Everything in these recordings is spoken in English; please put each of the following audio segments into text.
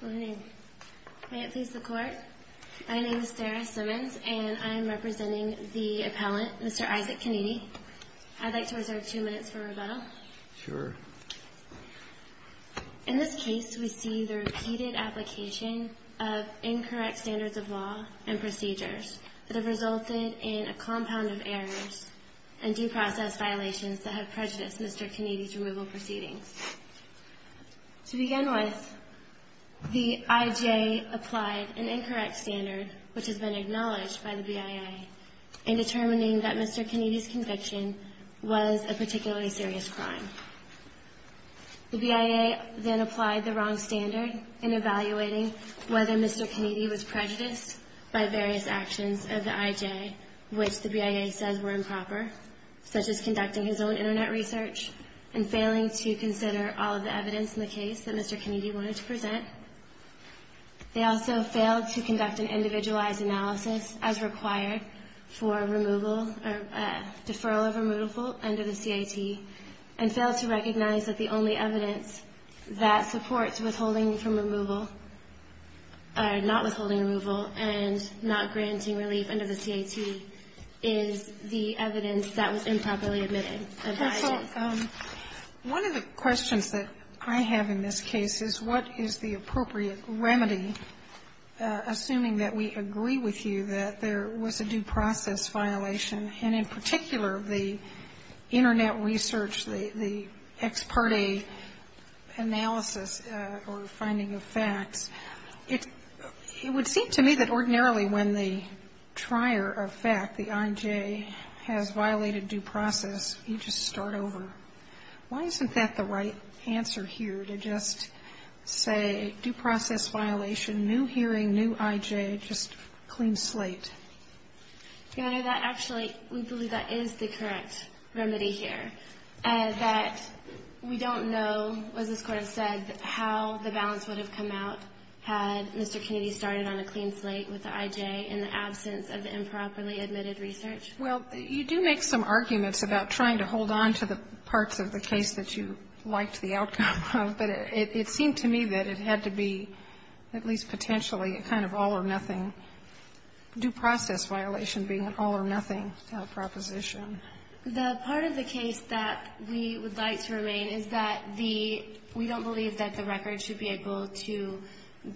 May it please the Court, my name is Sarah Simmons and I am representing the appellant, Mr. Isaac Kiniti. I'd like to reserve two minutes for rebuttal. Sure. In this case, we see the repeated application of incorrect standards of law and procedures that have resulted in a compound of errors and due process violations that have prejudiced Mr. Kiniti's removal proceedings. To begin with, the IJA applied an incorrect standard, which has been acknowledged by the BIA, in determining that Mr. Kiniti's conviction was a particularly serious crime. The BIA then applied the wrong standard in evaluating whether Mr. Kiniti was prejudiced by various actions of the IJA, which the BIA says were improper, such as conducting his own Internet research and failing to consider all of the evidence in the case that Mr. Kiniti wanted to present. They also failed to conduct an individualized analysis as required for removal or deferral of removal under the CIT and failed to recognize that the only evidence that supports withholding from removal, or not withholding removal and not granting relief under the CIT is the evidence that was improperly admitted by the IJA. So one of the questions that I have in this case is what is the appropriate remedy, assuming that we agree with you that there was a due process violation, and in particular, the Internet research, the ex parte analysis or finding of facts. It would seem to me that ordinarily when the trier of fact, the IJA, has violated due process, you just start over. Why isn't that the right answer here, to just say due process violation, new hearing, new IJA, just clean slate? You know, that actually, we believe that is the correct remedy here, that we don't know, as this Court has said, how the balance would have come out had Mr. Kiniti started on a clean slate with the IJA in the absence of improperly admitted research. Well, you do make some arguments about trying to hold on to the parts of the case that you liked the outcome of, but it seemed to me that it had to be, at least potentially, a kind of all-or-nothing due process violation being an all-or-nothing proposition. The part of the case that we would like to remain is that the we don't believe that the record should be able to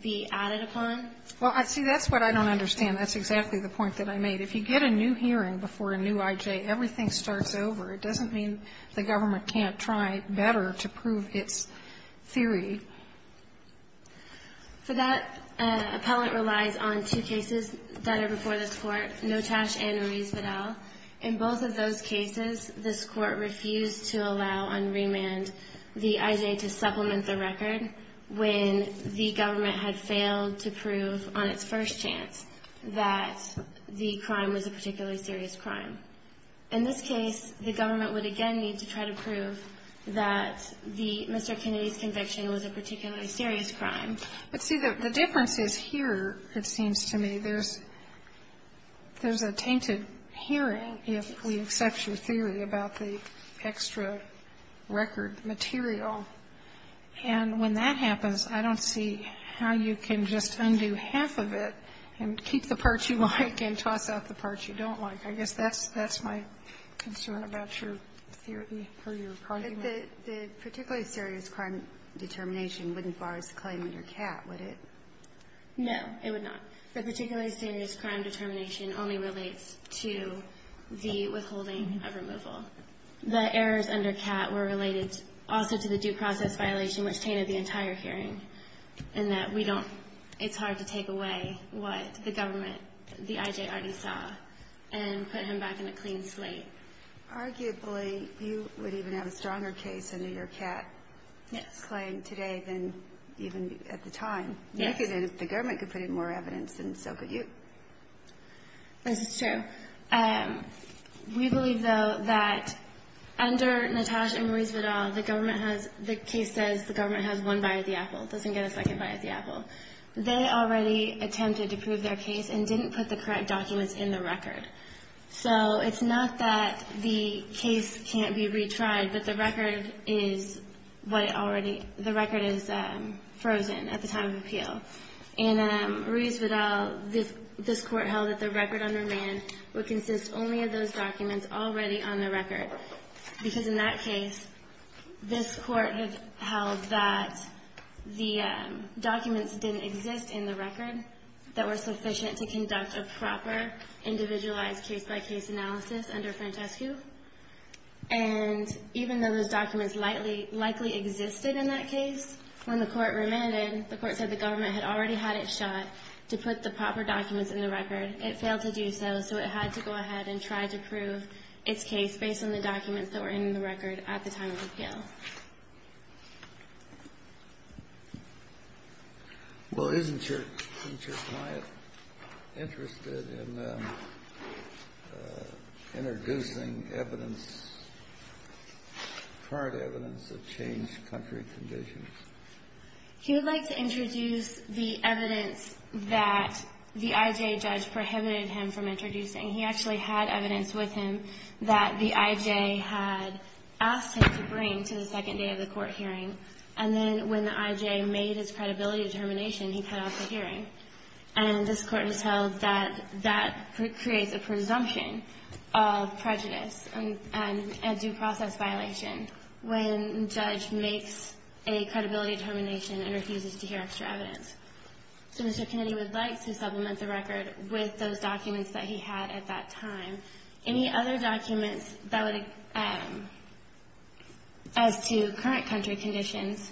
be added upon. Well, see, that's what I don't understand. That's exactly the point that I made. If you get a new hearing before a new IJA, everything starts over. It doesn't mean the government can't try better to prove its theory. For that, appellant relies on two cases that are before this Court, Notash and Ruiz-Vidal. In both of those cases, this Court refused to allow on remand the IJA to supplement the record when the government had failed to prove on its first chance that the crime was a particularly serious crime. In this case, the government would again need to try to prove that Mr. Kiniti's record was a particularly serious crime. But see, the difference is here, it seems to me. There's a tainted hearing if we accept your theory about the extra record material. And when that happens, I don't see how you can just undo half of it and keep the parts you like and toss out the parts you don't like. I guess that's my concern about your theory or your argument. But the particularly serious crime determination wouldn't bar his claim under CAT, would it? No, it would not. The particularly serious crime determination only relates to the withholding of removal. The errors under CAT were related also to the due process violation, which tainted the entire hearing, in that it's hard to take away what the government, the IJA already saw, and put him back in a clean slate. Arguably, you would even have a stronger case under your CAT claim today than even at the time. The government could put in more evidence and so could you. This is true. We believe, though, that under Natasha and Maurice Vidal, the case says the government has one bite at the apple, doesn't get a second bite at the apple. They already attempted to prove their case and didn't put the correct documents in the record. So it's not that the case can't be retried, but the record is what it already the record is frozen at the time of appeal. And Maurice Vidal, this court held that the record on remand would consist only of those documents already on the record, because in that case, this court has held that the documents didn't exist in the record that were sufficient to conduct a individualized case-by-case analysis under Francescu. And even though those documents likely existed in that case, when the court remanded, the court said the government had already had it shot to put the proper documents in the record. It failed to do so, so it had to go ahead and try to prove its case based on the documents that were in the record at the time of appeal. Well, isn't your client interested in introducing evidence, current evidence, that changed country conditions? He would like to introduce the evidence that the I.J. judge prohibited him from introducing. He actually had evidence with him that the I.J. had asked him to bring to the court hearing. And then when the I.J. made his credibility determination, he cut off the hearing. And this court has held that that creates a presumption of prejudice and due process violation when a judge makes a credibility determination and refuses to hear extra evidence. So Mr. Kennedy would like to supplement the record with those documents that he had at that time. Any other documents as to current country conditions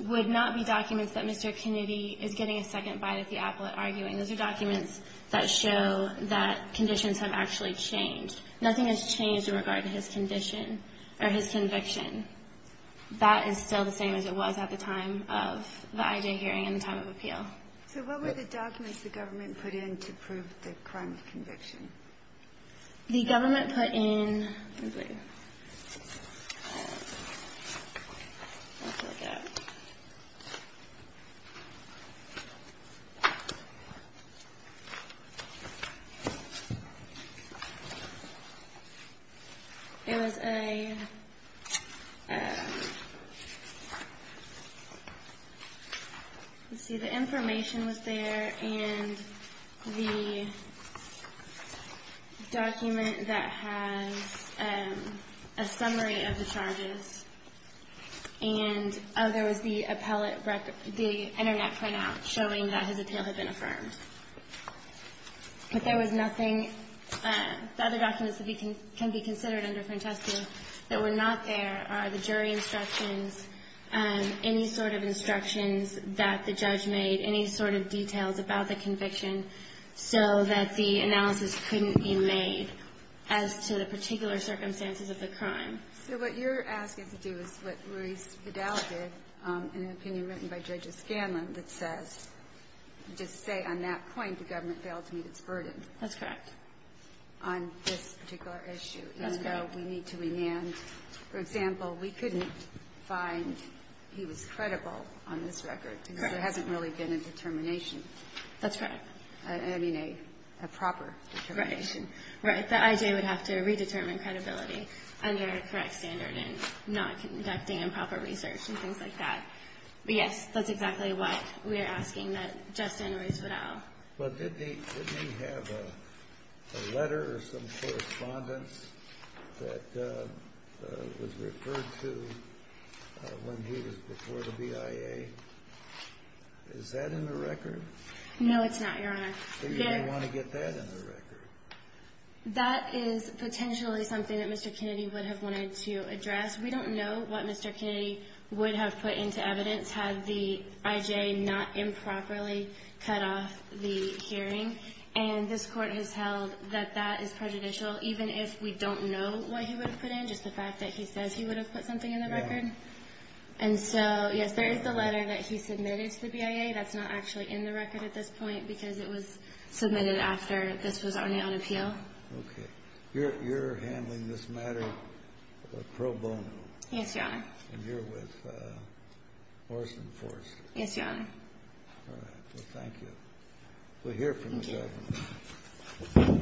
would not be documents that Mr. Kennedy is getting a second bite at the apple at arguing. Those are documents that show that conditions have actually changed. Nothing has changed in regard to his condition or his conviction. That is still the same as it was at the time of the I.J. hearing and the time of appeal. So what were the documents the government put in to prove the crime of conviction? The government put in. It was a. Let's see, the information was there and the document that has a summary of the charges. And there was the appellate record, the Internet point out showing that his appeal had been affirmed. But there was nothing. The other documents that can be considered under different testing that were not there are the jury instructions, any sort of instructions that the judge made, any sort of details about the conviction so that the analysis couldn't be made as to the particular circumstances of the crime. So what you're asking to do is what Ruiz Vidal did in an opinion written by Judge O'Scanlan that says, just say on that point the government failed to meet its burden. That's correct. On this particular issue. Even though we need to remand. For example, we couldn't find he was credible on this record because there hasn't really been a determination. That's correct. I mean, a proper determination. Right. The I.J. would have to redetermine credibility under a correct standard and not conducting improper research and things like that. But yes, that's exactly what we're asking that Justin Ruiz Vidal. But did he have a letter or some correspondence that was referred to when he was before the BIA? Is that in the record? No, it's not, Your Honor. So you don't want to get that in the record. That is potentially something that Mr. Kennedy would have wanted to address. We don't know what Mr. Kennedy would have put into evidence had the I.J. not improperly cut off the hearing. And this court has held that that is prejudicial, even if we don't know what he would have put in, just the fact that he says he would have put something in the record. And so, yes, there is the letter that he submitted to the BIA. That's not actually in the record at this point because it was submitted after this was already on appeal. Okay. You're handling this matter pro bono. Yes, Your Honor. And you're with Morris Enforced. Yes, Your Honor. All right. Well, thank you. We'll hear from the judge.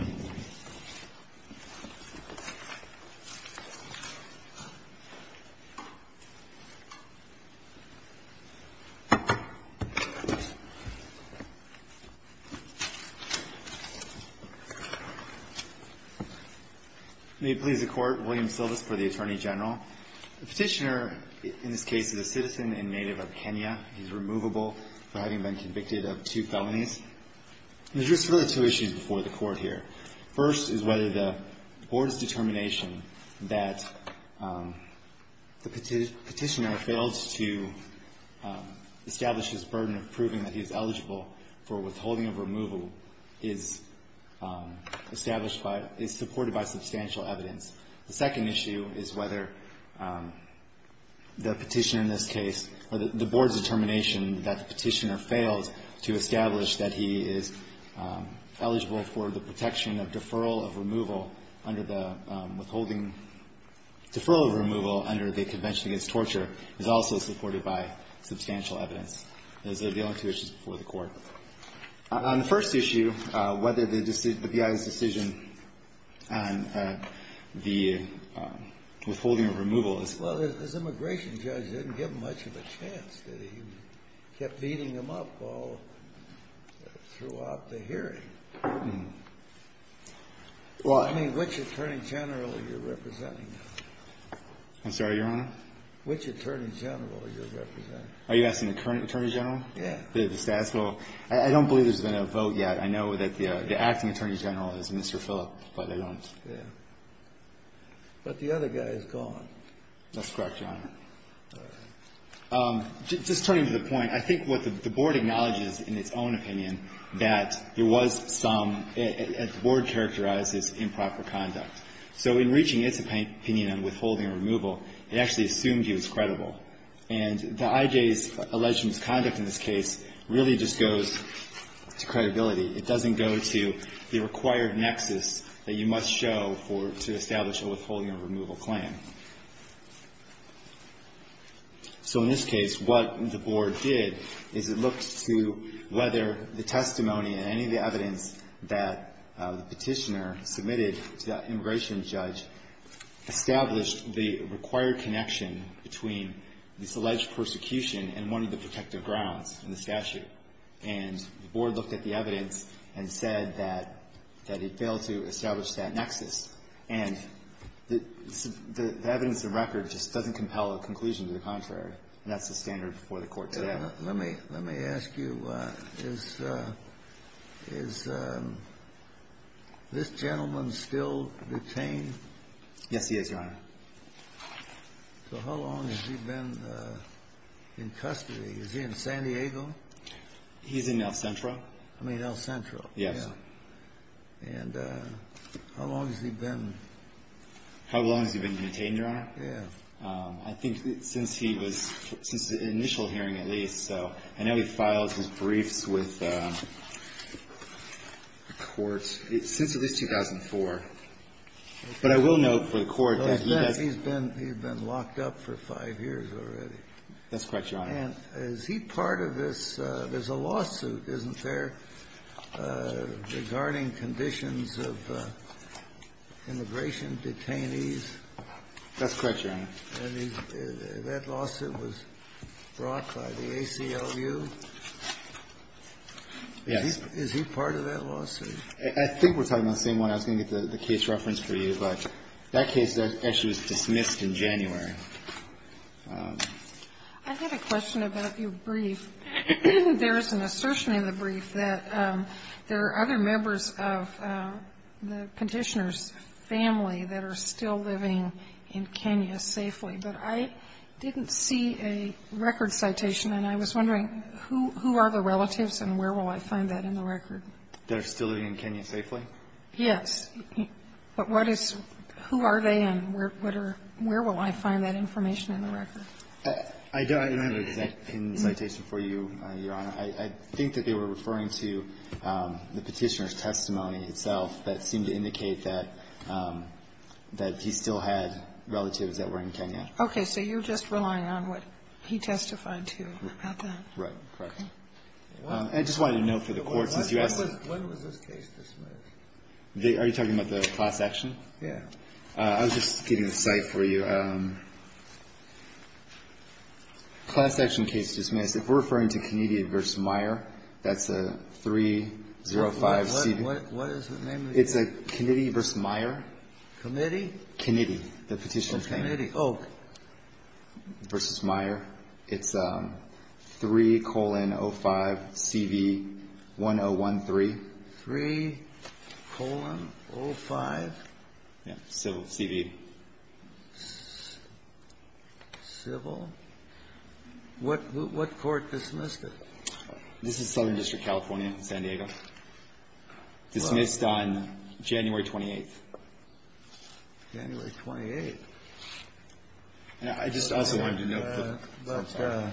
May it please the Court. William Silvis for the Attorney General. The Petitioner, in this case, is a citizen and native of Kenya. He's removable for having been convicted of two felonies. There's really just two issues before the Court here. First is whether the Board's determination that the Petitioner failed to establish his burden of proving that he is eligible for withholding of removal is established by, is supported by substantial evidence. The second issue is whether the Petitioner in this case, or the Board's determination that the Petitioner failed to establish that he is eligible for the protection of deferral of removal under the withholding, deferral of removal under the Convention Against Torture is also supported by substantial evidence. On the first issue, whether the BIA's decision on the withholding of removal is Well, this immigration judge didn't give him much of a chance. He kept beating him up all throughout the hearing. Well, I mean, which Attorney General are you representing? I'm sorry, Your Honor? Which Attorney General are you representing? Are you asking the current Attorney General? Yeah. The status quo? I don't believe there's been a vote yet. I know that the acting Attorney General is Mr. Phillip, but I don't. Yeah. But the other guy is gone. That's correct, Your Honor. All right. Just turning to the point, I think what the Board acknowledges in its own opinion that there was some, as the Board characterizes, improper conduct. So in reaching its opinion on withholding of removal, it actually assumed he was credible. And the IJ's alleged misconduct in this case really just goes to credibility. It doesn't go to the required nexus that you must show to establish a withholding of removal plan. So in this case, what the Board did is it looked to whether the testimony and any of the evidence that the petitioner submitted to that immigration judge established the required connection between this alleged persecution and one of the protective grounds in the statute. And the Board looked at the evidence and said that it failed to establish that nexus. And the evidence of record just doesn't compel a conclusion to the contrary. And that's the standard before the Court today. Let me ask you, is this gentleman still detained? Yes, he is, Your Honor. So how long has he been in custody? Is he in San Diego? He's in El Centro. I mean, El Centro. Yes. And how long has he been? How long has he been detained, Your Honor? Yes. I think since he was – since the initial hearing, at least. So I know he filed his briefs with the Court since at least 2004. But I will note for the Court that he does – He's been locked up for five years already. That's correct, Your Honor. And is he part of this – there's a lawsuit, isn't there, regarding conditions of immigration detainees? That's correct, Your Honor. And that lawsuit was brought by the ACLU. Yes. Is he part of that lawsuit? I think we're talking about the same one. I was going to get the case reference for you. But that case actually was dismissed in January. I had a question about your brief. There is an assertion in the brief that there are other members of the Conditioner's family that are still living in Kenya safely. But I didn't see a record citation, and I was wondering, who are the relatives and where will I find that in the record? That are still living in Kenya safely? Yes. But what is – who are they and where will I find that information in the record? I don't have an exact citation for you, Your Honor. I think that they were referring to the Petitioner's testimony itself that seemed to indicate that he still had relatives that were in Kenya. Okay. So you're just relying on what he testified to about that. Right. Correct. I just wanted a note for the Court, since you asked. When was this case dismissed? Are you talking about the class action? Yes. I was just getting a cite for you. Class action case dismissed. If we're referring to Kennedy v. Meyer, that's a 305CB. What is the name of the case? It's a Kennedy v. Meyer. Kennedy? Kennedy. The Petitioner's family. Oh. Versus Meyer. It's 3,05CV1013. 3,05? Yes. Civil. CV. Civil. What court dismissed it? This is Southern District, California, San Diego. Dismissed on January 28th. January 28th. I just also wanted to note that.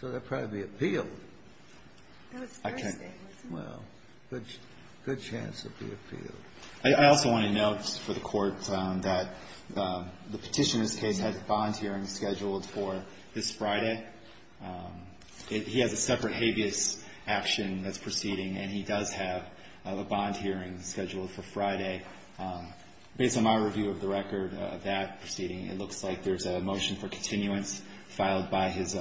So they'll probably be appealed. Well, good chance they'll be appealed. I also want to note for the Court that the Petitioner's case has a bond hearing scheduled for this Friday. He has a separate habeas action that's proceeding, and he does have a bond hearing scheduled for Friday. Based on my review of the record of that proceeding, it looks like there's a motion for continuance filed by his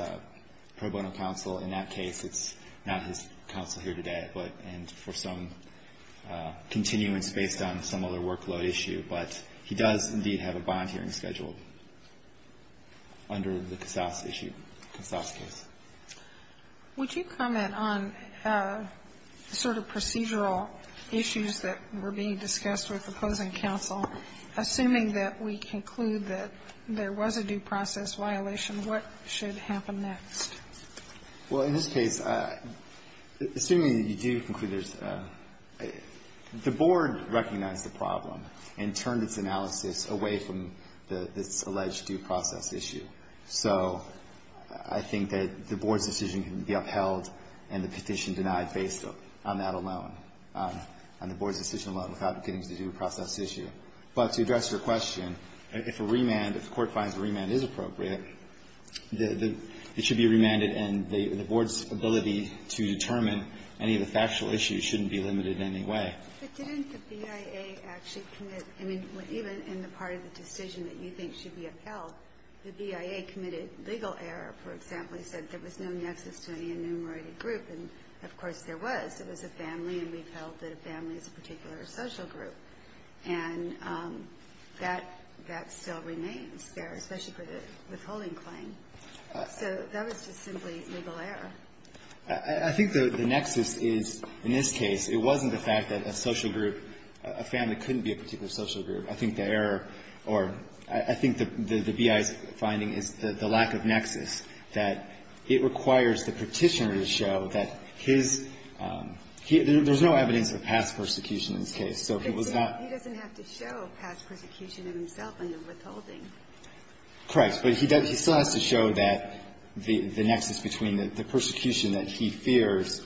pro bono counsel. In that case, it's not his counsel here today, but for some continuance based on some other workload issue. But he does, indeed, have a bond hearing scheduled under the Casas issue, Casas case. Would you comment on the sort of procedural issues that were being discussed with opposing counsel? Assuming that we conclude that there was a due process violation, what should happen next? Well, in this case, assuming that you do conclude there's the board recognized the problem and turned its analysis away from this alleged due process issue. So I think that the board's decision can be upheld and the petition denied based on that alone, on the board's decision alone without getting to the due process issue. But to address your question, if a remand, if the Court finds a remand is appropriate, it should be remanded and the board's ability to determine any of the factual issues shouldn't be limited in any way. But didn't the BIA actually commit, I mean, even in the part of the decision that you think should be upheld, the BIA committed legal error, for example. He said there was no nexus to any enumerated group. And, of course, there was. It was a family, and we've held that a family is a particular social group. And that still remains there, especially for the withholding claim. So that was just simply legal error. I think the nexus is, in this case, it wasn't the fact that a social group, a family, couldn't be a particular social group. I think the error, or I think the BIA's finding is the lack of nexus, that it requires the Petitioner to show that his — there's no evidence of past persecution in this case. So he was not — But he doesn't have to show past persecution of himself in the withholding. Correct. But he still has to show that the nexus between the persecution that he fears,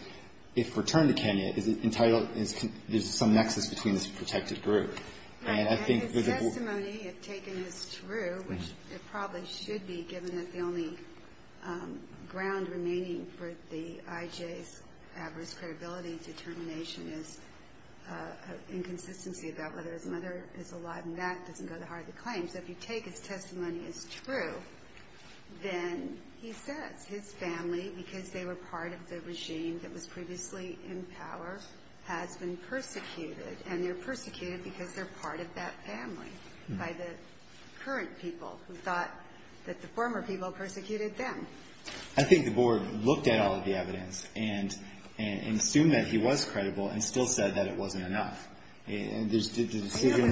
if returned to Kenya, is entitled — there's some nexus between this protected group. And his testimony, if taken, is true, which it probably should be, given that the only ground remaining for the IJ's adverse credibility determination is an inconsistency about whether his mother is alive. And that doesn't go to heart of the claim. So if you take his testimony as true, then he says his family, because they were part of the regime that was previously in power, has been persecuted. And they're persecuted because they're part of that family by the current people who thought that the former people persecuted them. I think the Board looked at all of the evidence and assumed that he was credible and still said that it wasn't enough. And there's — What I'm saying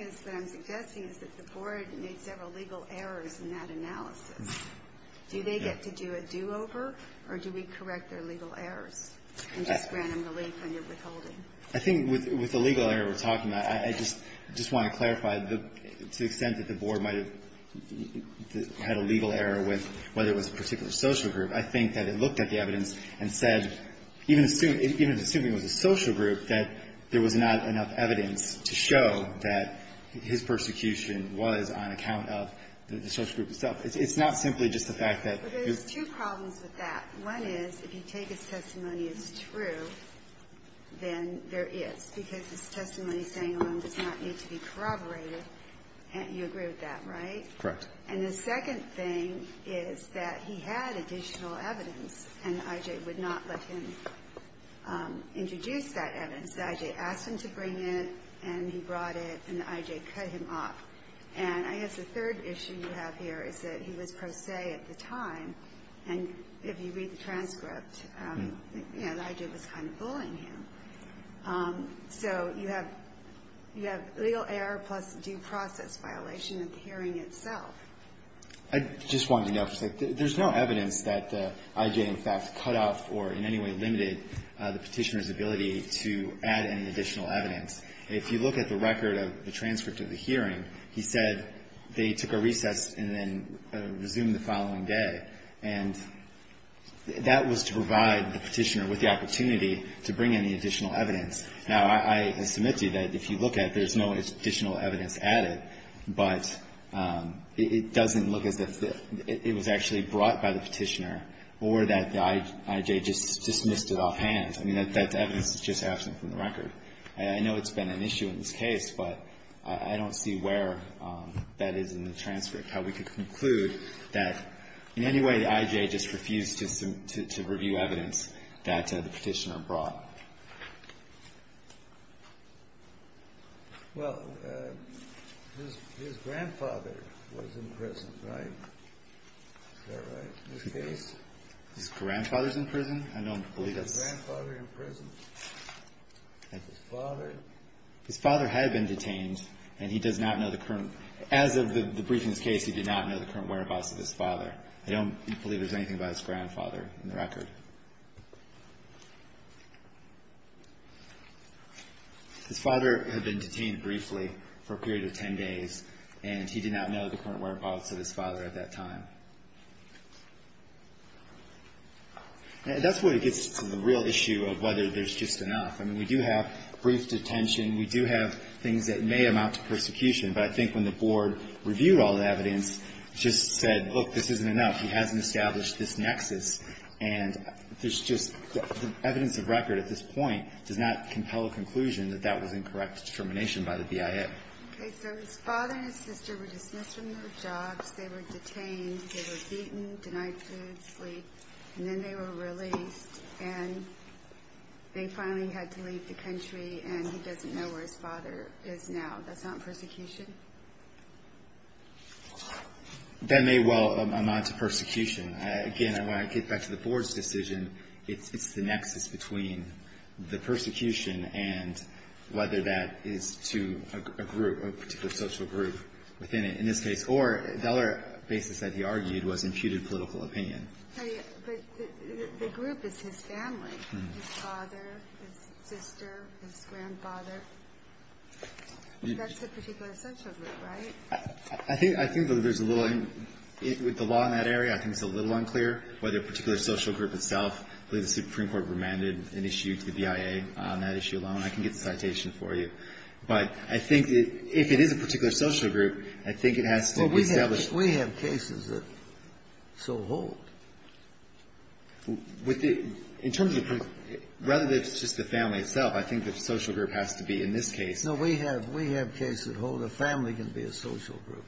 is — what I'm suggesting is that the Board made several legal errors in that analysis. Do they get to do a do-over, or do we correct their legal errors and just grant them relief on their withholding? I think with the legal error we're talking about, I just want to clarify, to the extent that the Board might have had a legal error with whether it was a particular social group, I think that it looked at the evidence and said, even assuming it was a social group, that there was not enough evidence to show that his persecution was on account of the social group itself. It's not simply just the fact that — But there's two problems with that. One is, if you take his testimony as true, then there is, because his testimony saying alone does not need to be corroborated. You agree with that, right? Correct. And the second thing is that he had additional evidence, and the I.J. would not let him introduce that evidence. The I.J. asked him to bring it, and he brought it, and the I.J. cut him off. And I guess the third issue you have here is that he was pro se at the time, and if you read the transcript, you know, the I.J. was kind of bullying him. So you have legal error plus due process violation of the hearing itself. I just wanted to note, there's no evidence that I.J. in fact cut off or in any way limited the Petitioner's ability to add any additional evidence. If you look at the record of the transcript of the hearing, he said they took a recess and then resumed the following day, and that was to provide the Petitioner with the opportunity to bring in the additional evidence. Now, I submit to you that if you look at it, there's no additional evidence added, but it doesn't look as if it was actually brought by the Petitioner or that the I.J. just dismissed it offhand. I mean, that evidence is just absent from the record. I know it's been an issue in this case, but I don't see where that is in the transcript, how we could conclude that in any way the I.J. just refused to review evidence that the Petitioner brought. Well, his grandfather was in prison, right? Is that right? In this case? His grandfather's in prison? I don't believe that's the case. His father? His father had been detained, and he does not know the current – as of the briefing of this case, he did not know the current whereabouts of his father. I don't believe there's anything about his grandfather in the record. His father had been detained briefly for a period of 10 days, and he did not know the current whereabouts of his father at that time. That's where it gets to the real issue of whether there's just enough. I mean, we do have brief detention. We do have things that may amount to persecution. But I think when the Board reviewed all the evidence, it just said, look, this isn't enough. He hasn't established this nexus. And there's just – the evidence of record at this point does not compel a conclusion that that was incorrect determination by the BIA. Okay. So his father and his sister were dismissed from their jobs. They were detained. They were beaten, denied food, sleep, and then they were released. And they finally had to leave the country, and he doesn't know where his father is now. That's not persecution? That may well amount to persecution. Again, when I get back to the Board's decision, it's the nexus between the persecution and whether that is to a group, a particular social group within it in this case. Or the other basis that he argued was imputed political opinion. But the group is his family, his father, his sister, his grandfather. That's a particular social group, right? I think there's a little – with the law in that area, I think it's a little unclear whether a particular social group itself. I believe the Supreme Court remanded an issue to the BIA on that issue alone. I can get the citation for you. But I think if it is a particular social group, I think it has to be established We have cases that so hold. With the – in terms of the – rather than just the family itself, I think the social group has to be in this case. No. We have cases that hold a family can be a social group.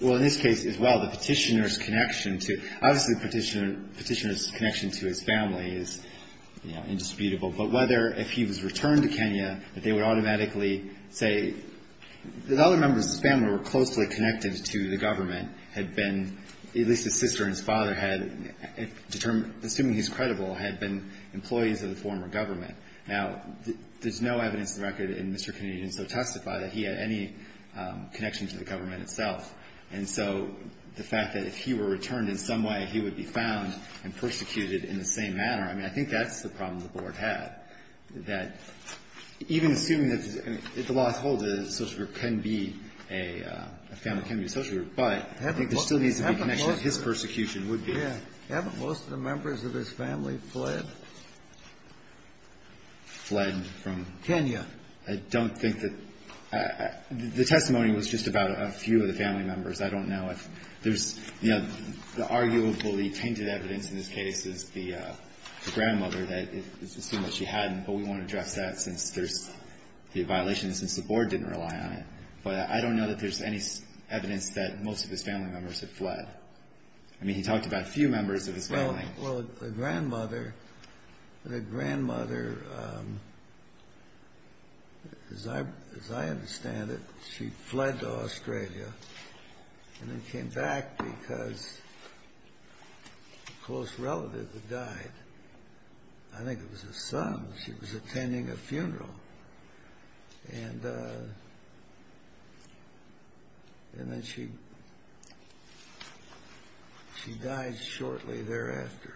Well, in this case, as well, the Petitioner's connection to – obviously, the Petitioner's connection to his family is, you know, indisputable. But whether if he was returned to Kenya, that they would automatically say – the other members of his family were closely connected to the government, had been – at least his sister and his father had determined – assuming he's credible, had been employees of the former government. Now, there's no evidence in the record in Mr. Kennedy to so testify that he had any connection to the government itself. And so the fact that if he were returned in some way, he would be found and persecuted in the same manner, I mean, I think that's the problem the Board had, that even assuming that the law holds that a social group can be a – a family can be a social group, but I think there still needs to be a connection to his persecution would be. Haven't most of the members of his family fled? Fled from? Kenya. I don't think that – the testimony was just about a few of the family members. I don't know if there's, you know, the arguably tainted evidence in this case is the grandmother, that it's assumed that she hadn't, but we won't address that since there's the violation, since the Board didn't rely on it. But I don't know that there's any evidence that most of his family members have fled. I mean, he talked about a few members of his family. Well, the grandmother – the grandmother, as I – as I understand it, she fled to died. I think it was his son. She was attending a funeral. And – and then she – she died shortly thereafter.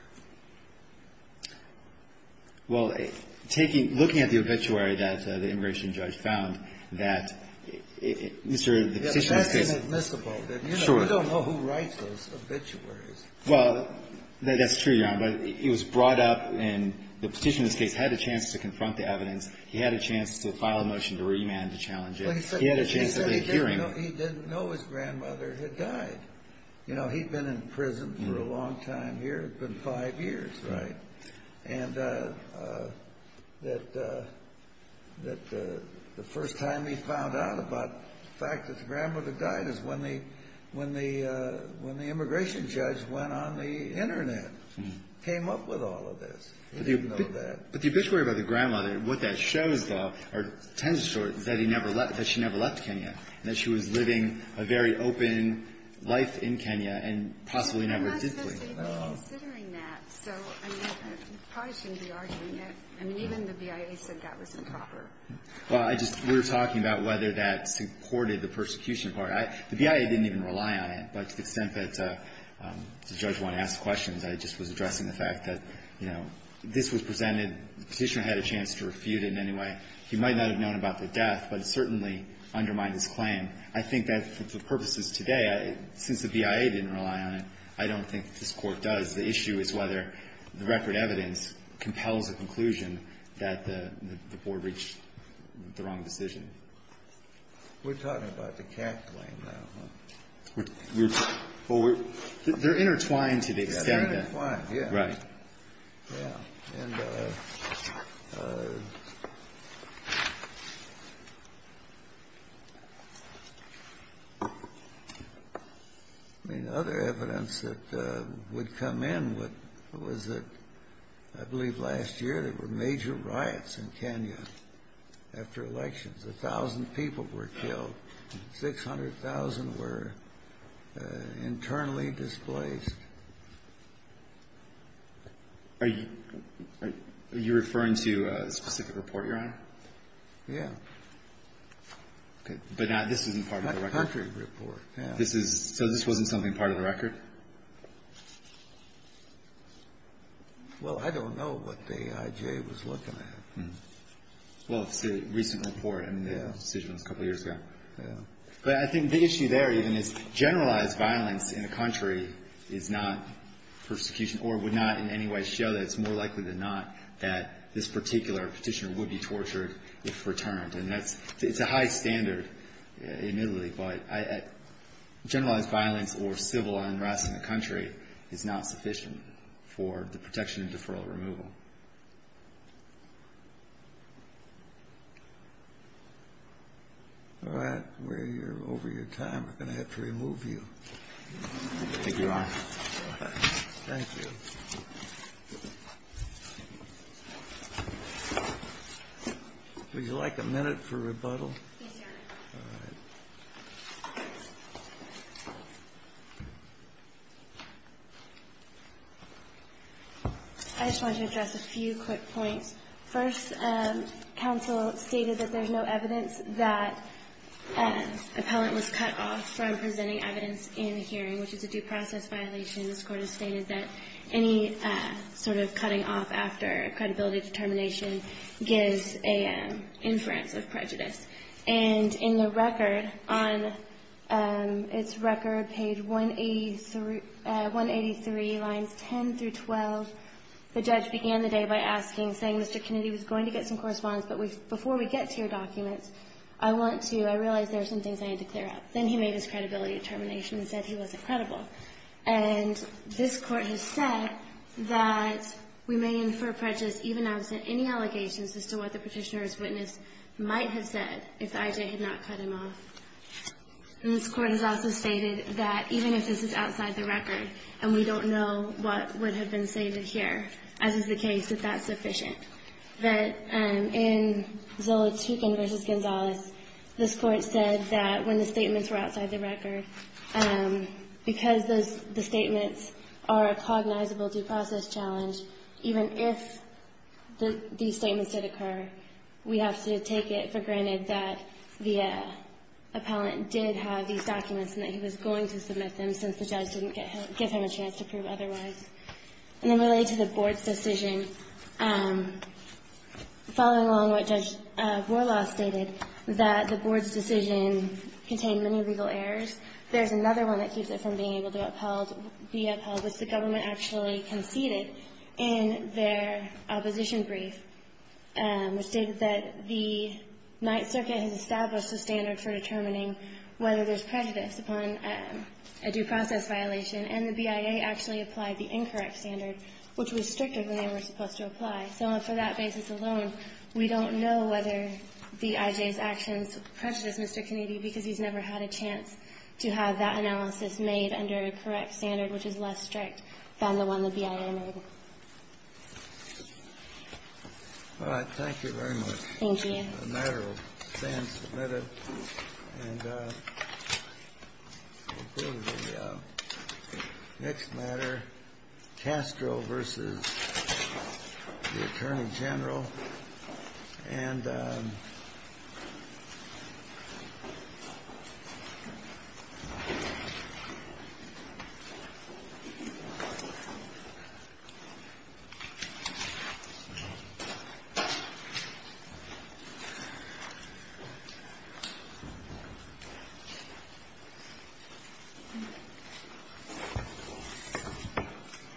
Well, taking – looking at the obituary that the immigration judge found that Mr. – That's inadmissible. Sure. We don't know who writes those obituaries. Well, that's true, Your Honor, but it was brought up and the petitioner in this case had a chance to confront the evidence. He had a chance to file a motion to remand to challenge it. He had a chance of a hearing. He said he didn't know his grandmother had died. You know, he'd been in prison for a long time here. It'd been five years, right? And that – that the first time he found out about the fact that his grandmother died is when the – when the – when the immigration judge went on the Internet, came up with all of this. He didn't know that. But the obituary about the grandmother, what that shows, though, or tends to show, is that he never left – that she never left Kenya and that she was living a very open life in Kenya and possibly never did leave. Well, I'm not supposed to even be considering that. So, I mean, I probably shouldn't be arguing it. I mean, even the BIA said that was improper. Well, I just – we were talking about whether that supported the persecution part. The BIA didn't even rely on it. But to the extent that the judge wanted to ask questions, I just was addressing the fact that, you know, this was presented – the Petitioner had a chance to refute it in any way. He might not have known about the death, but it certainly undermined his claim. I think that for purposes today, since the BIA didn't rely on it, I don't think this Court does. The issue is whether the record evidence compels a conclusion that the Board reached the wrong decision. We're talking about the CAC claim now, huh? We're – well, we're – they're intertwined to the extent that – Yes, they're intertwined, yes. Right. Yeah. I mean, other evidence that would come in was that I believe last year there were major riots in Kenya after elections. 600,000 were internally displaced. Are you – are you referring to a specific report, Your Honor? Yeah. Okay. But not – this isn't part of the record. That country report, yeah. This is – so this wasn't something part of the record? Well, I don't know what the IJ was looking at. Well, it's a recent report. I mean, the decision was a couple years ago. Yeah. But I think the issue there even is generalized violence in a country is not persecution or would not in any way show that it's more likely than not that this particular petitioner would be tortured if returned. And that's – it's a high standard, admittedly, but generalized violence or civil unrest in the country is not sufficient for the protection of deferral or removal. All right. We're over your time. We're going to have to remove you. Thank you, Your Honor. Thank you. Would you like a minute for rebuttal? Yes, Your Honor. All right. I just want to address a few quick points. First, counsel stated that there's no evidence that appellant was cut off from presenting evidence in the hearing, which is a due process violation. This Court has stated that any sort of cutting off after credibility determination gives an inference of prejudice. And in the record, on its record, page 183, lines 10 through 12, the judge began the day by asking, saying, Mr. Kennedy was going to get some correspondence, but before we get to your documents, I want to – I realize there are some things I need to clear up. Then he made his credibility determination and said he wasn't credible. And this Court has said that we may infer prejudice even absent any allegations as to what the petitioner's witness might have said if the IJ had not cut him off. And this Court has also stated that even if this is outside the record and we don't know what would have been stated here, as is the case, that that's sufficient. That in Zola Tuchin v. Gonzalez, this Court said that when the statements were outside the record, because the statements are a cognizable due process challenge, even if these statements did occur, we have to take it for granted that the appellant did have these documents and that he was going to submit them since the judge didn't give him a chance to prove otherwise. And then related to the Board's decision, following along what Judge Borlaug stated, that the Board's decision contained many legal errors. There's another one that keeps it from being able to upheld, be upheld, which the government actually conceded in their opposition brief, which stated that the Ninth Circuit has established a standard for determining whether there's prejudice upon a due process violation, and the BIA actually applied the incorrect standard, which was stricter than they were supposed to apply. So on that basis alone, we don't know whether the IJ's actions prejudice Mr. Kennedy because he's never had a chance to have that analysis made under a correct standard which is less strict than the one the BIA made. All right. Thank you very much. Thank you. The matter will stand submitted. And we'll go to the next matter, Castro v. the Attorney General. And